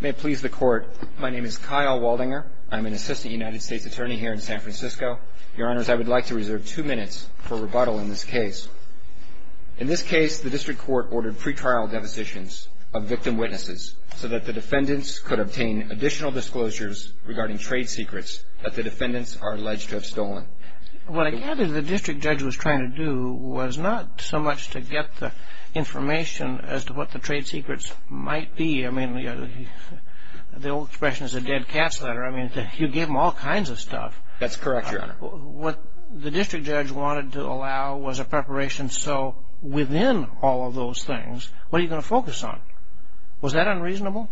May it please the court. My name is Kyle Waldinger. I'm an assistant United States attorney here in San Francisco. Your honors, I would like to reserve two minutes for rebuttal in this case. In this case, the district court ordered pretrial depositions of victim witnesses so that the defendants could obtain additional disclosures regarding trade secrets that the defendants are alleged to have stolen. What I gather the district judge was trying to do was not so much to get the information as to what the trade secrets might be. I mean, the old expression is a dead cat's letter. I mean, you gave them all kinds of stuff. That's correct, your honor. What the district judge wanted to allow was a preparation so within all of those things, what are you going to focus on? Was that unreasonable?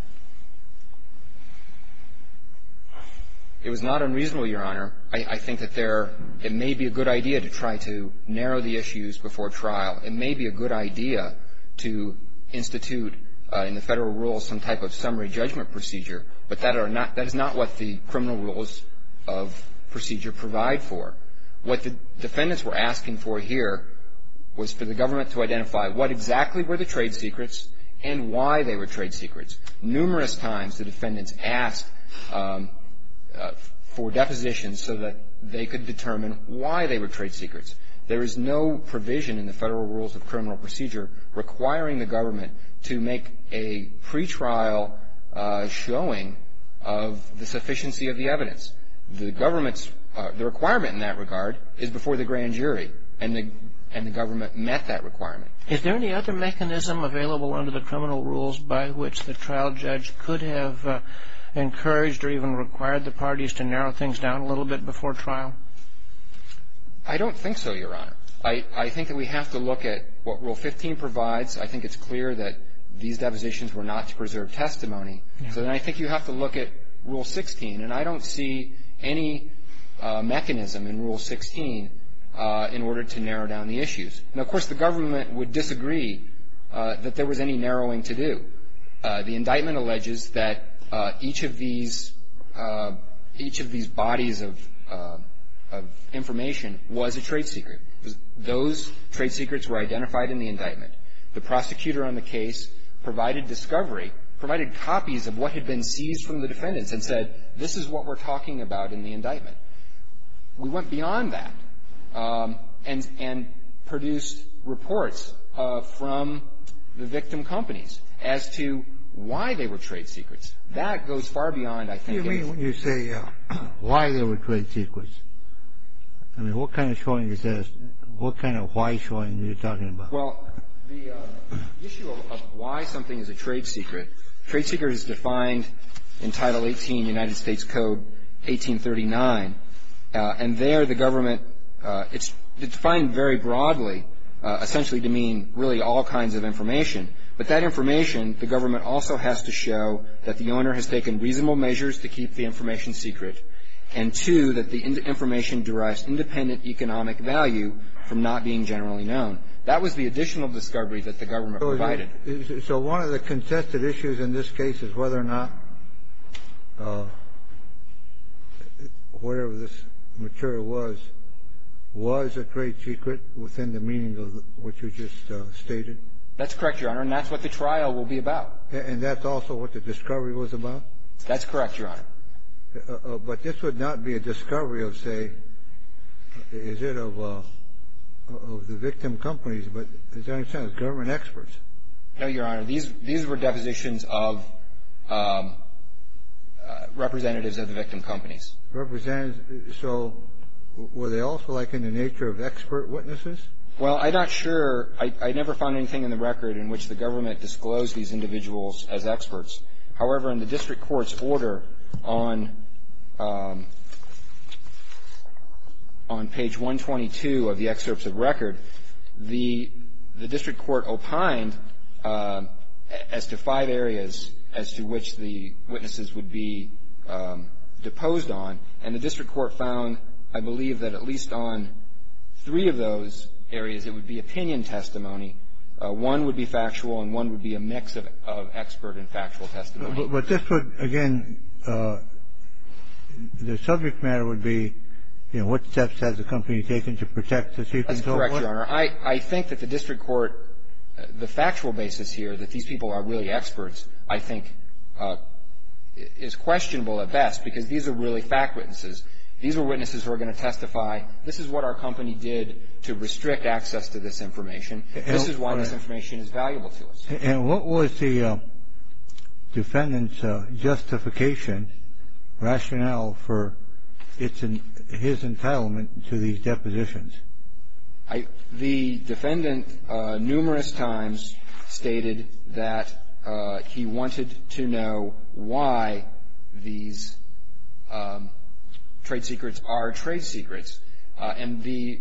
It was not unreasonable, your honor. I think that there, it may be a good idea to try to narrow the issues before trial. It may be a good idea to institute in the federal rules some type of summary judgment procedure, but that are not, that is not what the criminal rules of procedure provide for. What the defendants were asking for here was for the government to identify what exactly were the trade secrets and why they were trade secrets. Numerous times the defendants asked for depositions so that they could determine why they were federal rules of criminal procedure requiring the government to make a pretrial showing of the sufficiency of the evidence. The government's, the requirement in that regard is before the grand jury and the government met that requirement. Is there any other mechanism available under the criminal rules by which the trial judge could have encouraged or even required the I think that we have to look at what Rule 15 provides. I think it's clear that these depositions were not to preserve testimony. So then I think you have to look at Rule 16 and I don't see any mechanism in Rule 16 in order to narrow down the issues. And of course, the government would disagree that there was any narrowing to do. The indictment alleges that each of these, each of these bodies of information was a trade secret. Those trade secrets were identified in the indictment. The prosecutor on the case provided discovery, provided copies of what had been seized from the defendants and said, this is what we're talking about in the indictment. We went beyond that and produced reports from the victim companies as to why they were trade secrets. That goes far beyond, I think, a You mean when you say why they were trade secrets? I mean, what kind of showing is this? What kind of why showing are you talking about? Well, the issue of why something is a trade secret, trade secret is defined in Title 18 United States Code 1839. And there the government, it's defined very broadly, essentially to mean really all kinds of information. But that information, the government also has to show that the owner has taken reasonable measures to keep the information secret and, two, that the information derives independent economic value from not being generally known. That was the additional discovery that the government provided. So one of the contested issues in this case is whether or not whatever this material was, was a trade secret within the meaning of what you just stated? That's correct, Your Honor. And that's what the trial will be about. And that's also what the discovery was about? That's correct, Your Honor. But this would not be a discovery of, say, is it of the victim companies, but is there any sense, government experts? No, Your Honor. These were depositions of representatives of the victim companies. Representatives. So were they also, like, in the nature of expert witnesses? Well, I'm not sure. I never found anything in the record in which the government disclosed these individuals as experts. However, in the district court's order on page 122 of the excerpts of record, the district court opined as to five areas as to which the witnesses would be deposed on. And the district court found, I believe, that at least on three of those areas, it would be opinion testimony. One would be factual, and one would be a mix of expert and factual testimony. But this would, again, the subject matter would be, you know, what steps has the company taken to protect the secrets of what? That's correct, Your Honor. I think that the district court, the factual basis here, that these people are really experts, I think, is questionable at best, because these are really fact witnesses. These are witnesses who are going to testify, this is what our company did to restrict access to this information. This is why this information is valuable to us. And what was the defendant's justification, rationale, for his entitlement to these depositions? The defendant numerous times stated that he wanted to know why these trade secrets are trade secrets. And the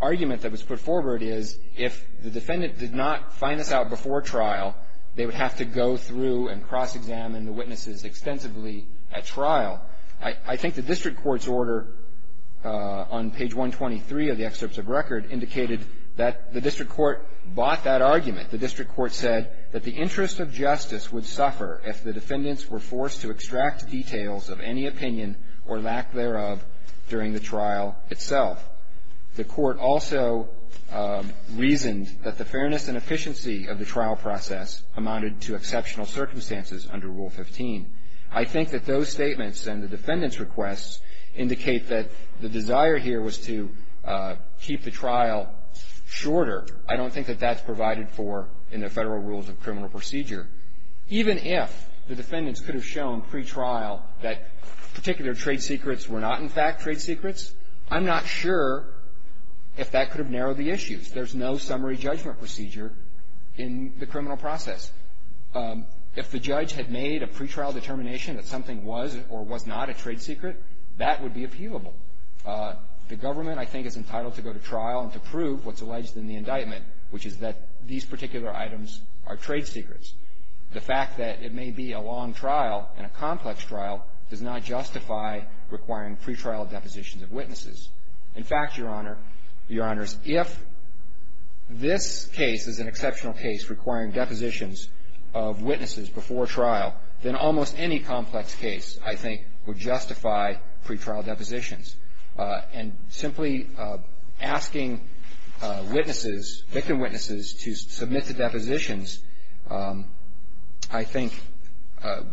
argument that was put forward is, if the defendant did not find this out before trial, they would have to go through and cross-examine the witnesses extensively at trial. I think the district court's order on page 123 of the excerpts of record indicated that the district court bought that argument. The district court said that the interest of justice would suffer if the defendants were forced to extract details of any opinion or lack thereof during the trial itself. The court also reasoned that the fairness and efficiency of the trial process amounted to exceptional circumstances under Rule 15. I think that those statements and the defendant's requests indicate that the desire here was to keep the trial shorter. I don't think that that's provided for in the Federal Rules of Criminal Procedure. Even if the defendants could have shown pre-trial that particular trade secrets were not, in fact, trade secrets, I'm not sure if that could have narrowed the issues. There's no summary judgment procedure in the criminal process. If the judge had made a pre-trial determination that something was or was not a trade secret, that would be appealable. The government, I think, is entitled to go to trial and to prove what's alleged in the indictment, which is that these particular items are trade secrets. The fact that it may be a long trial and a complex trial does not justify requiring pre-trial depositions of witnesses. In fact, Your Honor, Your Honors, if this case is an of witnesses before trial, then almost any complex case, I think, would justify pre-trial depositions. And simply asking witnesses, victim witnesses, to submit the depositions, I think,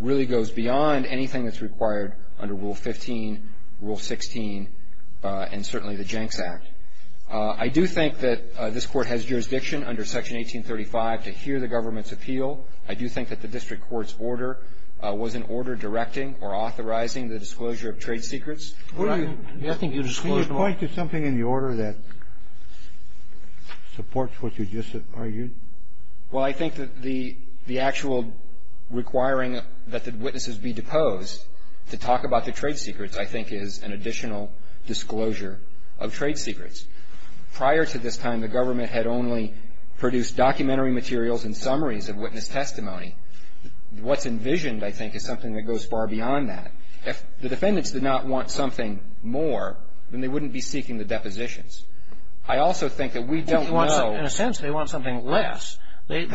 really goes beyond anything that's required under Rule 15, Rule 16, and certainly the Jenks Act. I do think that this Court has jurisdiction under Section 1835 to hear the government's appeal. I do think that the district court's order was an order directing or authorizing the disclosure of trade secrets. Can you point to something in the order that supports what you just argued? Well, I think that the actual requiring that the witnesses be deposed to talk about the trade secrets, I think, is an additional disclosure of trade secrets. Prior to this time, the government had only produced documentary materials and summaries of witness testimony. What's envisioned, I think, is something that goes far beyond that. If the defendants did not want something more, then they wouldn't be seeking the depositions. I also think that we don't know In a sense, they want something less. They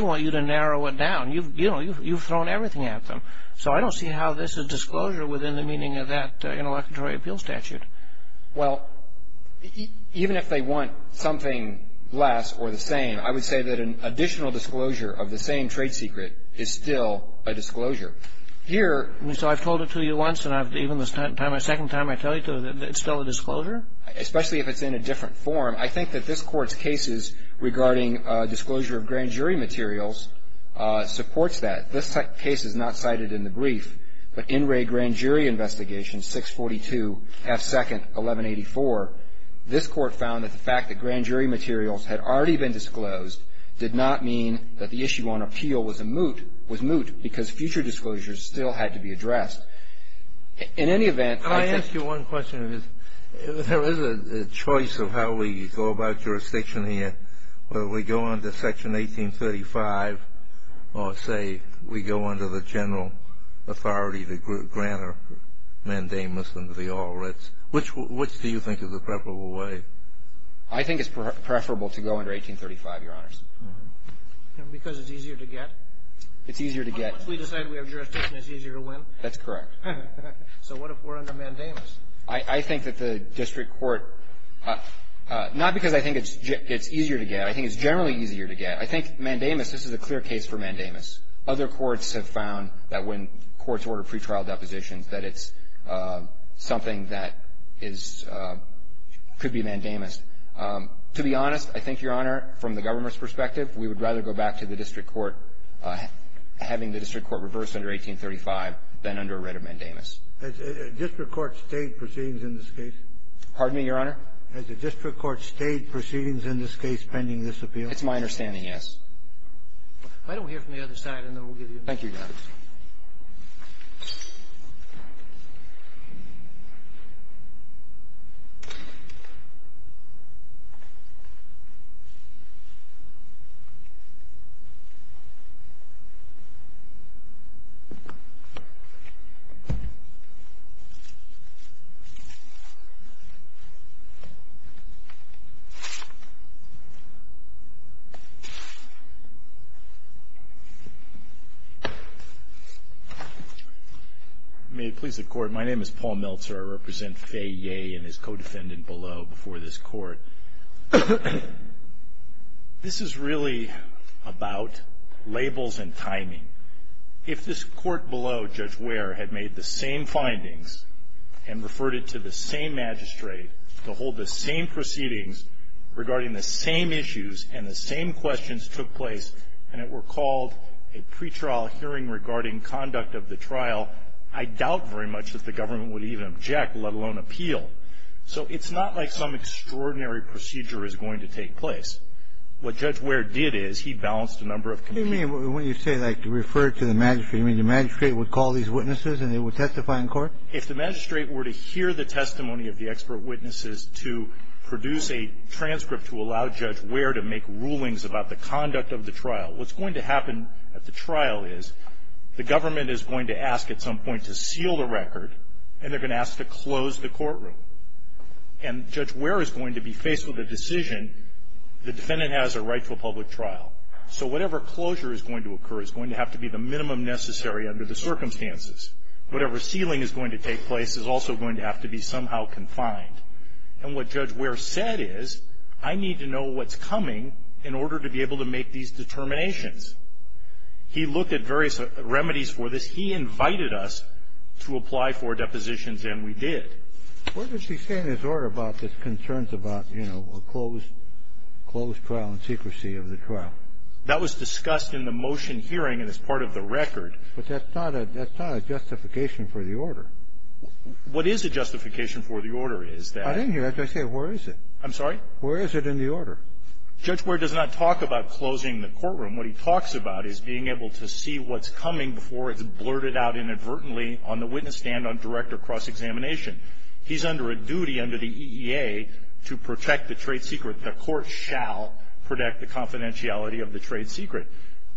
want you to narrow it down. You've, you know, you've thrown everything at them. So I don't see how this is disclosure within the meaning of that Interlocutory Appeal Statute. Well, even if they want something less or the same, I would say that an additional disclosure of the same trade secret is still a disclosure. Here I mean, so I've told it to you once, and even the second time I tell you to, it's still a disclosure? Especially if it's in a different form. I think that this Court's cases regarding disclosure of grand jury materials supports that. This case is not cited in the brief, but in Ray Grand Jury Investigation 642 F. 2nd. 1184, this Court found that the fact that grand jury materials had already been disclosed did not mean that the issue on appeal was a moot, was moot, because future disclosures still had to be addressed. In any event Can I ask you one question? There is a choice of how we go about jurisdiction here, whether we go under Section 1835 or, say, we go under the general authority to grant a mandamus under the All Writs. Which do you think is the preferable way? I think it's preferable to go under 1835, Your Honors. Because it's easier to get? It's easier to get. Unless we decide we have jurisdiction, it's easier to win? That's correct. So what if we're under mandamus? I think that the district court – not because I think it's easier to get. I think it's generally easier to get. I think mandamus, this is a clear case for mandamus. Other courts have found that when courts order pretrial depositions, that it's something that is – could be mandamus. To be honest, I think, Your Honor, from the government's perspective, we would rather go back to the district court having the district court reverse under 1835 than under a writ of mandamus. Has a district court stayed proceedings in this case? Pardon me, Your Honor? Has a district court stayed proceedings in this case pending this appeal? It's my understanding, yes. Why don't we hear from the other side, and then we'll give you a moment? Thank you, Your Honor. May it please the Court, my name is Paul Meltzer. I represent Fay Yeh and his co-defendant below before this Court. This is really about labels and timing. If this Court below, Judge Ware, had made the same findings and referred it to the same magistrate to hold the same proceedings regarding the same issues and the same questions took place, and it were called a pretrial hearing regarding conduct of the trial, I doubt very much that the government would even object, let alone appeal. So it's not like some extraordinary procedure is going to take place. What Judge Ware did is he balanced a number of conditions. What do you mean when you say, like, refer it to the magistrate? You mean the magistrate would call these witnesses and they would testify in court? If the magistrate were to hear the testimony of the expert witnesses to produce a transcript to allow Judge Ware to make rulings about the conduct of the trial, what's going to happen at the trial is the government is going to ask at some point to seal the record, and they're going to ask to close the courtroom. And Judge Ware is going to be faced with a decision, the defendant has a right to a public trial. So whatever closure is going to occur is going to have to be the minimum necessary under the circumstances. Whatever sealing is going to take place is also going to have to be somehow confined. And what Judge Ware said is, I need to know what's coming in order to be able to make these determinations. He looked at various remedies for this. He invited us to apply for depositions, and we did. What does he say in his order about the concerns about, you know, a closed trial and secrecy of the trial? That was discussed in the motion hearing and is part of the record. But that's not a justification for the order. What is a justification for the order is that the order is that the order is that I didn't hear that. Did I say where is it? I'm sorry? Where is it in the order? Judge Ware does not talk about closing the courtroom. What he talks about is being able to see what's coming before it's blurted out inadvertently on the witness stand on direct or cross-examination. He's under a duty under the EEA to protect the trade secret. The court shall protect the confidentiality of the trade secret.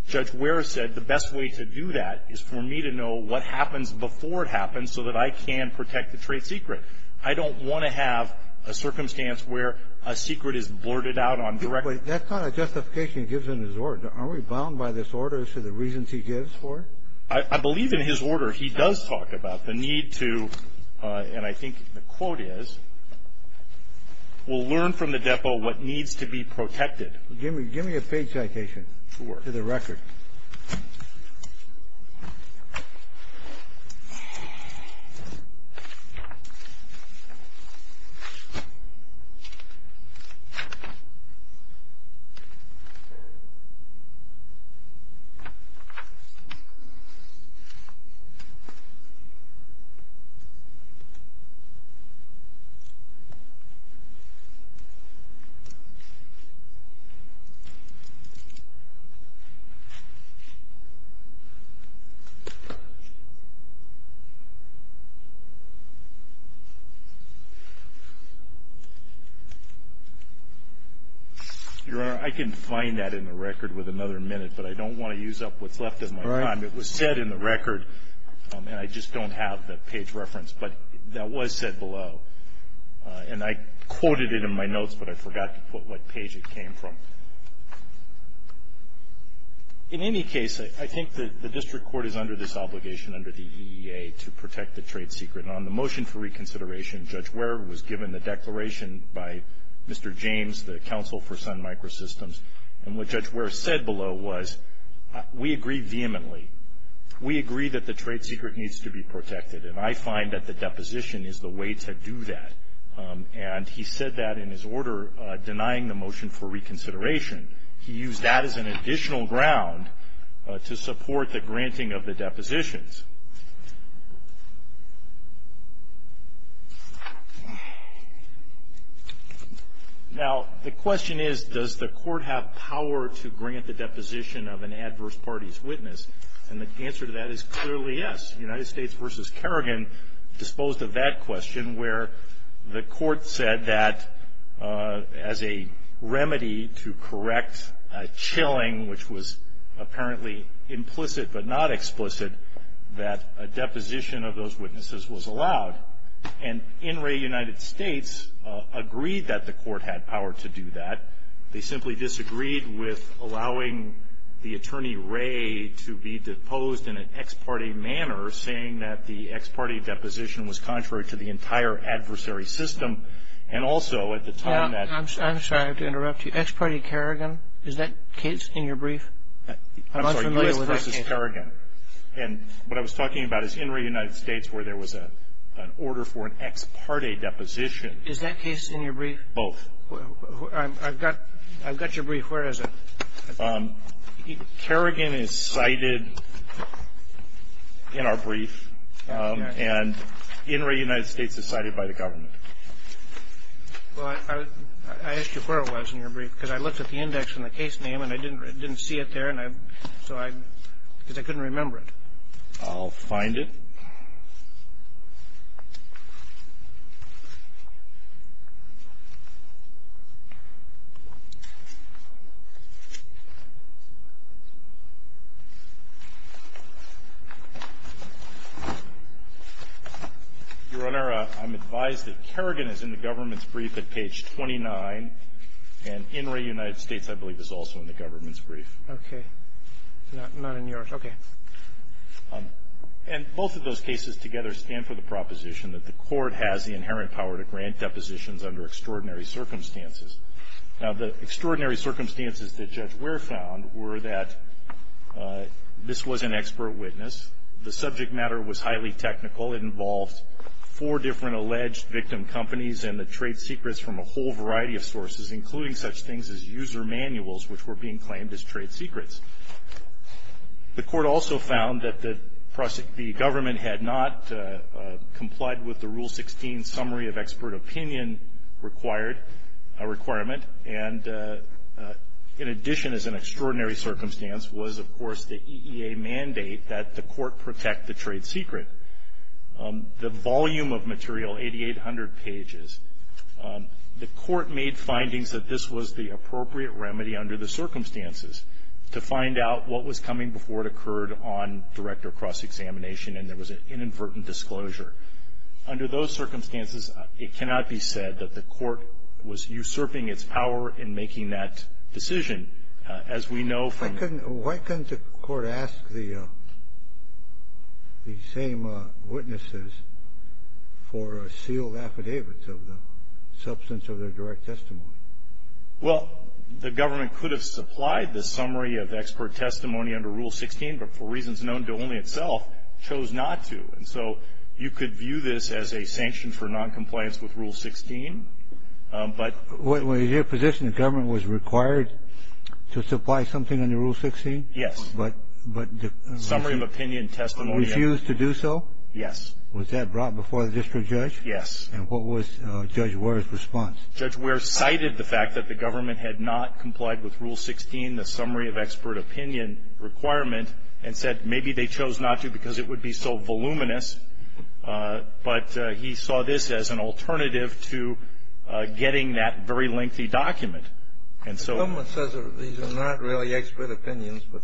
Judge Ware said the best way to do that is for me to know what happens before it happens so that I can protect the trade secret. I don't want to have a circumstance where a secret is blurted out on direct or cross-examination. But that's not a justification he gives in his order. Are we bound by this order as to the reasons he gives for it? I believe in his order he does talk about the need to, and I think the quote is, we'll learn from the depot what needs to be protected. Give me a page citation to the record. Your Honor, I can find that in the record with another minute, but I don't want to use up what's left of my time. It was said in the record, and I just don't have the page reference, but that was said below. And I quoted it in my notes, but I forgot to put what page it came from. In any case, I think the district court is under this obligation under the EEA to protect the trade secret. And on the motion for reconsideration, Judge Ware was given the declaration by Mr. James, the counsel for Sun Microsystems. And what Judge Ware said below was, we agree vehemently. We agree that the trade secret needs to be protected. And I find that the deposition is the way to do that. And he said that in his order denying the motion for reconsideration. He used that as an additional ground to support the granting of the depositions. Now, the question is, does the court have power to grant the deposition of an adverse party's witness? And the answer to that is clearly yes. United States v. Kerrigan disposed of that question where the court said that as a remedy to correct a chilling, which was apparently implicit but not explicit, that a deposition of those witnesses was allowed. And NRA United States agreed that the court had power to do that. They simply disagreed with allowing the attorney, Ray, to be deposed in an ex parte manner, saying that the ex parte deposition was contrary to the entire adversary system. And also at the time that- I'm sorry to interrupt you. Ex parte Kerrigan? Is that case in your brief? I'm not familiar with that case. I'm sorry, U.S. v. Kerrigan. And what I was talking about is NRA United States where there was an order for an ex parte deposition. Is that case in your brief? Both. I've got your brief. Where is it? Kerrigan is cited in our brief. And NRA United States is cited by the government. Well, I asked you where it was in your brief, because I looked at the index and the case name, and I didn't see it there, and so I couldn't remember it. I'll find it. Your Honor, I'm advised that Kerrigan is in the government's brief at page 29, and NRA United States, I believe, is also in the government's brief. Okay. Not in yours. Okay. And both of those cases together stand for the proposition that the court has the inherent power to grant depositions under extraordinary circumstances. Now, the extraordinary circumstances that Judge Ware found were that this was an expert witness. The subject matter was highly technical. It involved four different alleged victim companies and the trade secrets from a whole variety of sources, including such things as user manuals, which were being claimed as trade secrets. The court also found that the government had not complied with the Rule 16 summary of expert opinion requirement, and in addition, as an extraordinary circumstance, was, of course, the EEA mandate that the court protect the trade secret. The volume of material, 8,800 pages, the court made findings that this was the appropriate remedy under the circumstances to find out what was coming before it occurred on direct or cross-examination and there was an inadvertent disclosure. Under those circumstances, it cannot be said that the court was usurping its power in making that decision. As we know from the… Why couldn't the court ask the same witnesses for sealed affidavits of the substance of their direct testimony? Well, the government could have supplied the summary of expert testimony under Rule 16, but for reasons known to only itself, chose not to. And so you could view this as a sanction for noncompliance with Rule 16, but… Was your position the government was required to supply something under Rule 16? Yes. But the summary of opinion testimony refused to do so? Yes. Was that brought before the district judge? Yes. And what was Judge Ware's response? Judge Ware cited the fact that the government had not complied with Rule 16, the summary of expert opinion requirement, and said maybe they chose not to because it would be so voluminous. But he saw this as an alternative to getting that very lengthy document. And so… The government says these are not really expert opinions, but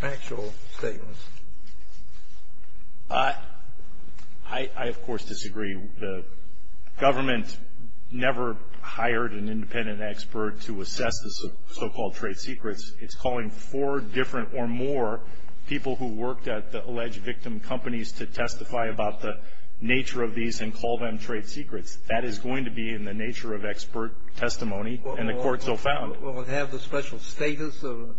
factual statements. I, of course, disagree. The government never hired an independent expert to assess the so-called trade secrets. It's calling four different or more people who worked at the alleged victim companies to testify about the nature of these and call them trade secrets. That is going to be in the nature of expert testimony, and the Court so found. Will it have the special status of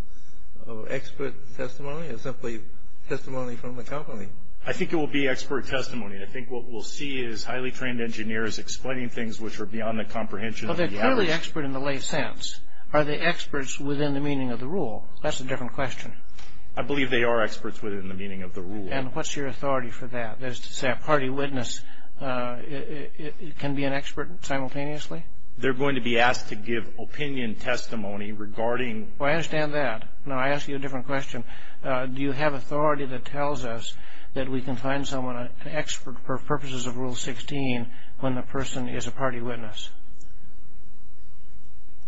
expert testimony or simply testimony from the company? I think it will be expert testimony. I think what we'll see is highly trained engineers explaining things which are beyond the comprehension of the average. Well, they're clearly expert in the lay sense. Are they experts within the meaning of the rule? That's a different question. I believe they are experts within the meaning of the rule. And what's your authority for that? That is to say a party witness can be an expert simultaneously? They're going to be asked to give opinion testimony regarding… Well, I understand that. Now, I ask you a different question. Do you have authority that tells us that we can find someone an expert for purposes of Rule 16 when the person is a party witness?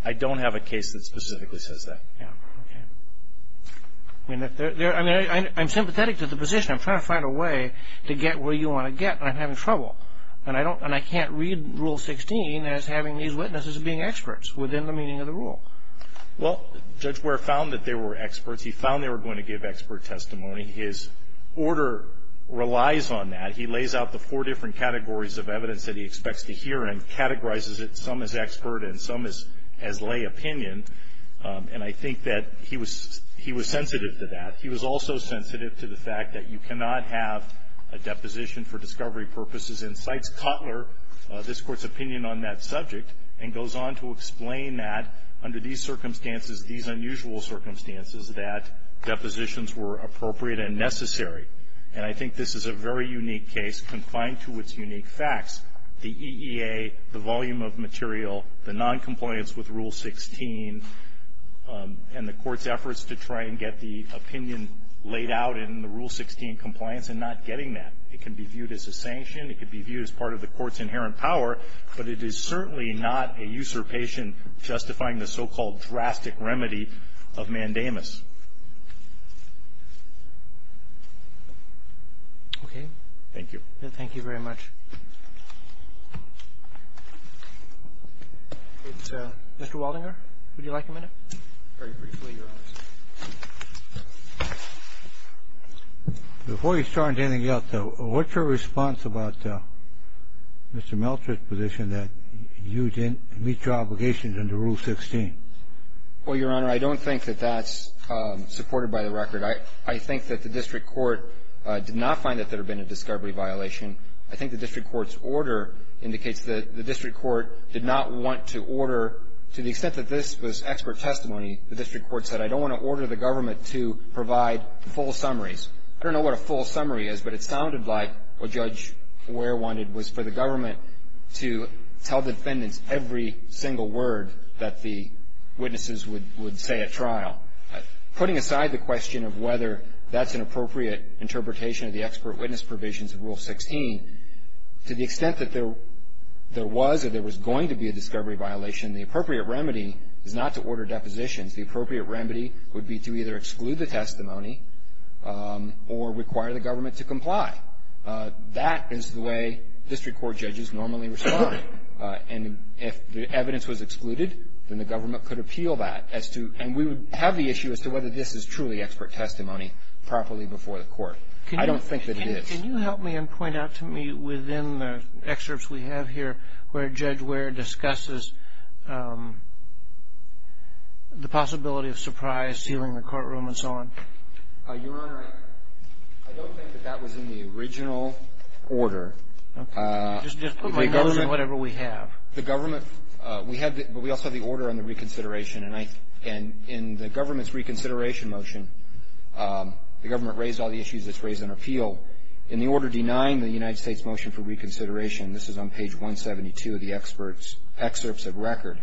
I don't have a case that specifically says that. Okay. I mean, I'm sympathetic to the position. I'm trying to find a way to get where you want to get, and I'm having trouble. And I can't read Rule 16 as having these witnesses being experts within the meaning of the rule. Well, Judge Ware found that they were experts. He found they were going to give expert testimony. His order relies on that. He lays out the four different categories of evidence that he expects to hear and categorizes it some as expert and some as lay opinion. And I think that he was sensitive to that. He was also sensitive to the fact that you cannot have a deposition for discovery purposes and cites Cutler, this Court's opinion on that subject, and goes on to explain that under these circumstances, these unusual circumstances, that depositions were appropriate and necessary. And I think this is a very unique case, confined to its unique facts. The EEA, the volume of material, the noncompliance with Rule 16, and the Court's efforts to try and get the opinion laid out in the Rule 16 compliance and not getting that. It can be viewed as a sanction. It can be viewed as part of the Court's inherent power. But it is certainly not a usurpation justifying the so-called drastic remedy of mandamus. Okay. Thank you. Thank you very much. Mr. Waldinger, would you like a minute? Very briefly, Your Honor. Before you start anything else, what's your response about Mr. Miltrich's position that you didn't meet your obligations under Rule 16? Well, Your Honor, I don't think that that's supported by the record. I think that the district court did not find that there had been a discovery violation. I think the district court's order indicates that the district court did not want to order to the extent that this was expert testimony, the district court said, I don't want to order the government to provide full summaries. I don't know what a full summary is, but it sounded like what Judge Ware wanted was for the government to tell defendants every single word that the witnesses would say at trial. Putting aside the question of whether that's an appropriate interpretation of the expert witness provisions of Rule 16, to the extent that there was or there was going to be a discovery violation, the appropriate remedy is not to order depositions. The appropriate remedy would be to either exclude the testimony or require the government to comply. That is the way district court judges normally respond. And if the evidence was excluded, then the government could appeal that as to and we would have the issue as to whether this is truly expert testimony properly before the court. I don't think that it is. Can you help me and point out to me, within the excerpts we have here, where Judge Ware discusses the possibility of surprise, sealing the courtroom, and so on? Your Honor, I don't think that that was in the original order. Okay. Just put my nose in whatever we have. The government, we have, but we also have the order on the reconsideration, and in the government's reconsideration motion, the government raised all the issues that's raised in appeal. In the order denying the United States motion for reconsideration, this is on page 172 of the expert's excerpts of record,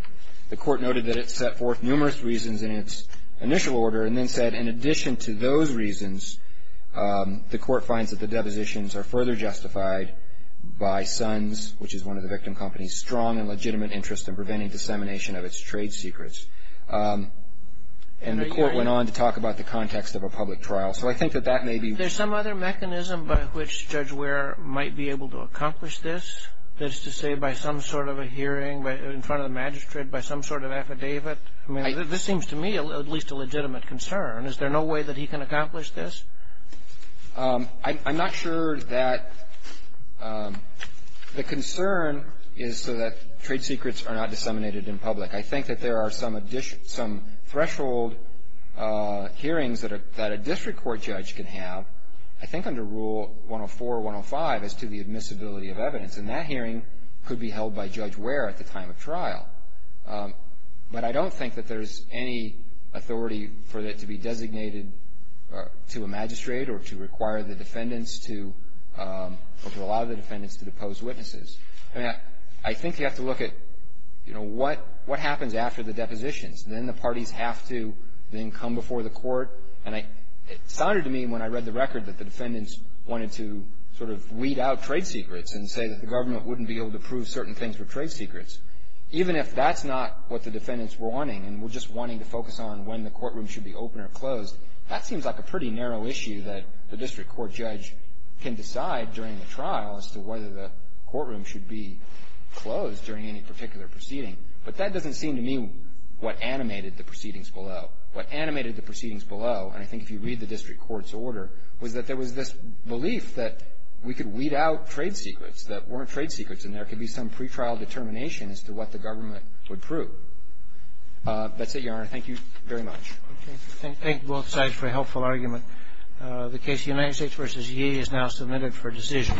the court noted that it set forth numerous reasons in its initial order, and then said in addition to those reasons, the court finds that the depositions are further justified by Sons, which is one of the victim companies, strong and legitimate interest in preventing dissemination of its trade secrets. And the court went on to talk about the context of a public trial. So I think that that may be. There's some other mechanism by which Judge Ware might be able to accomplish this, that is to say, by some sort of a hearing in front of the magistrate, by some sort of affidavit? I mean, this seems to me at least a legitimate concern. Is there no way that he can accomplish this? I'm not sure that the concern is so that trade secrets are not disseminated in public. I think that there are some threshold hearings that a district court judge can have, I think under Rule 104, 105, as to the admissibility of evidence. And that hearing could be held by Judge Ware at the time of trial. But I don't think that there's any authority for it to be designated to a magistrate or to require the defendants to, or to allow the defendants to depose witnesses. I mean, I think you have to look at, you know, what happens after the depositions. And then the parties have to then come before the court. And it sounded to me when I read the record that the defendants wanted to sort of weed out trade secrets and say that the government wouldn't be able to prove certain things were trade secrets. Even if that's not what the defendants were wanting, and were just wanting to focus on when the courtroom should be open or closed, that seems like a pretty narrow issue that the district court judge can decide during the trial as to whether the courtroom should be closed during any particular proceeding. But that doesn't seem to me what animated the proceedings below. What animated the proceedings below, and I think if you read the district court's order, was that there was this belief that we could weed out trade secrets that weren't trade secrets and there could be some pretrial determination as to what the government would prove. That's it, Your Honor. Thank you very much. Thank you. Thank both sides for a helpful argument. The case of United States v. Yee is now submitted for decision.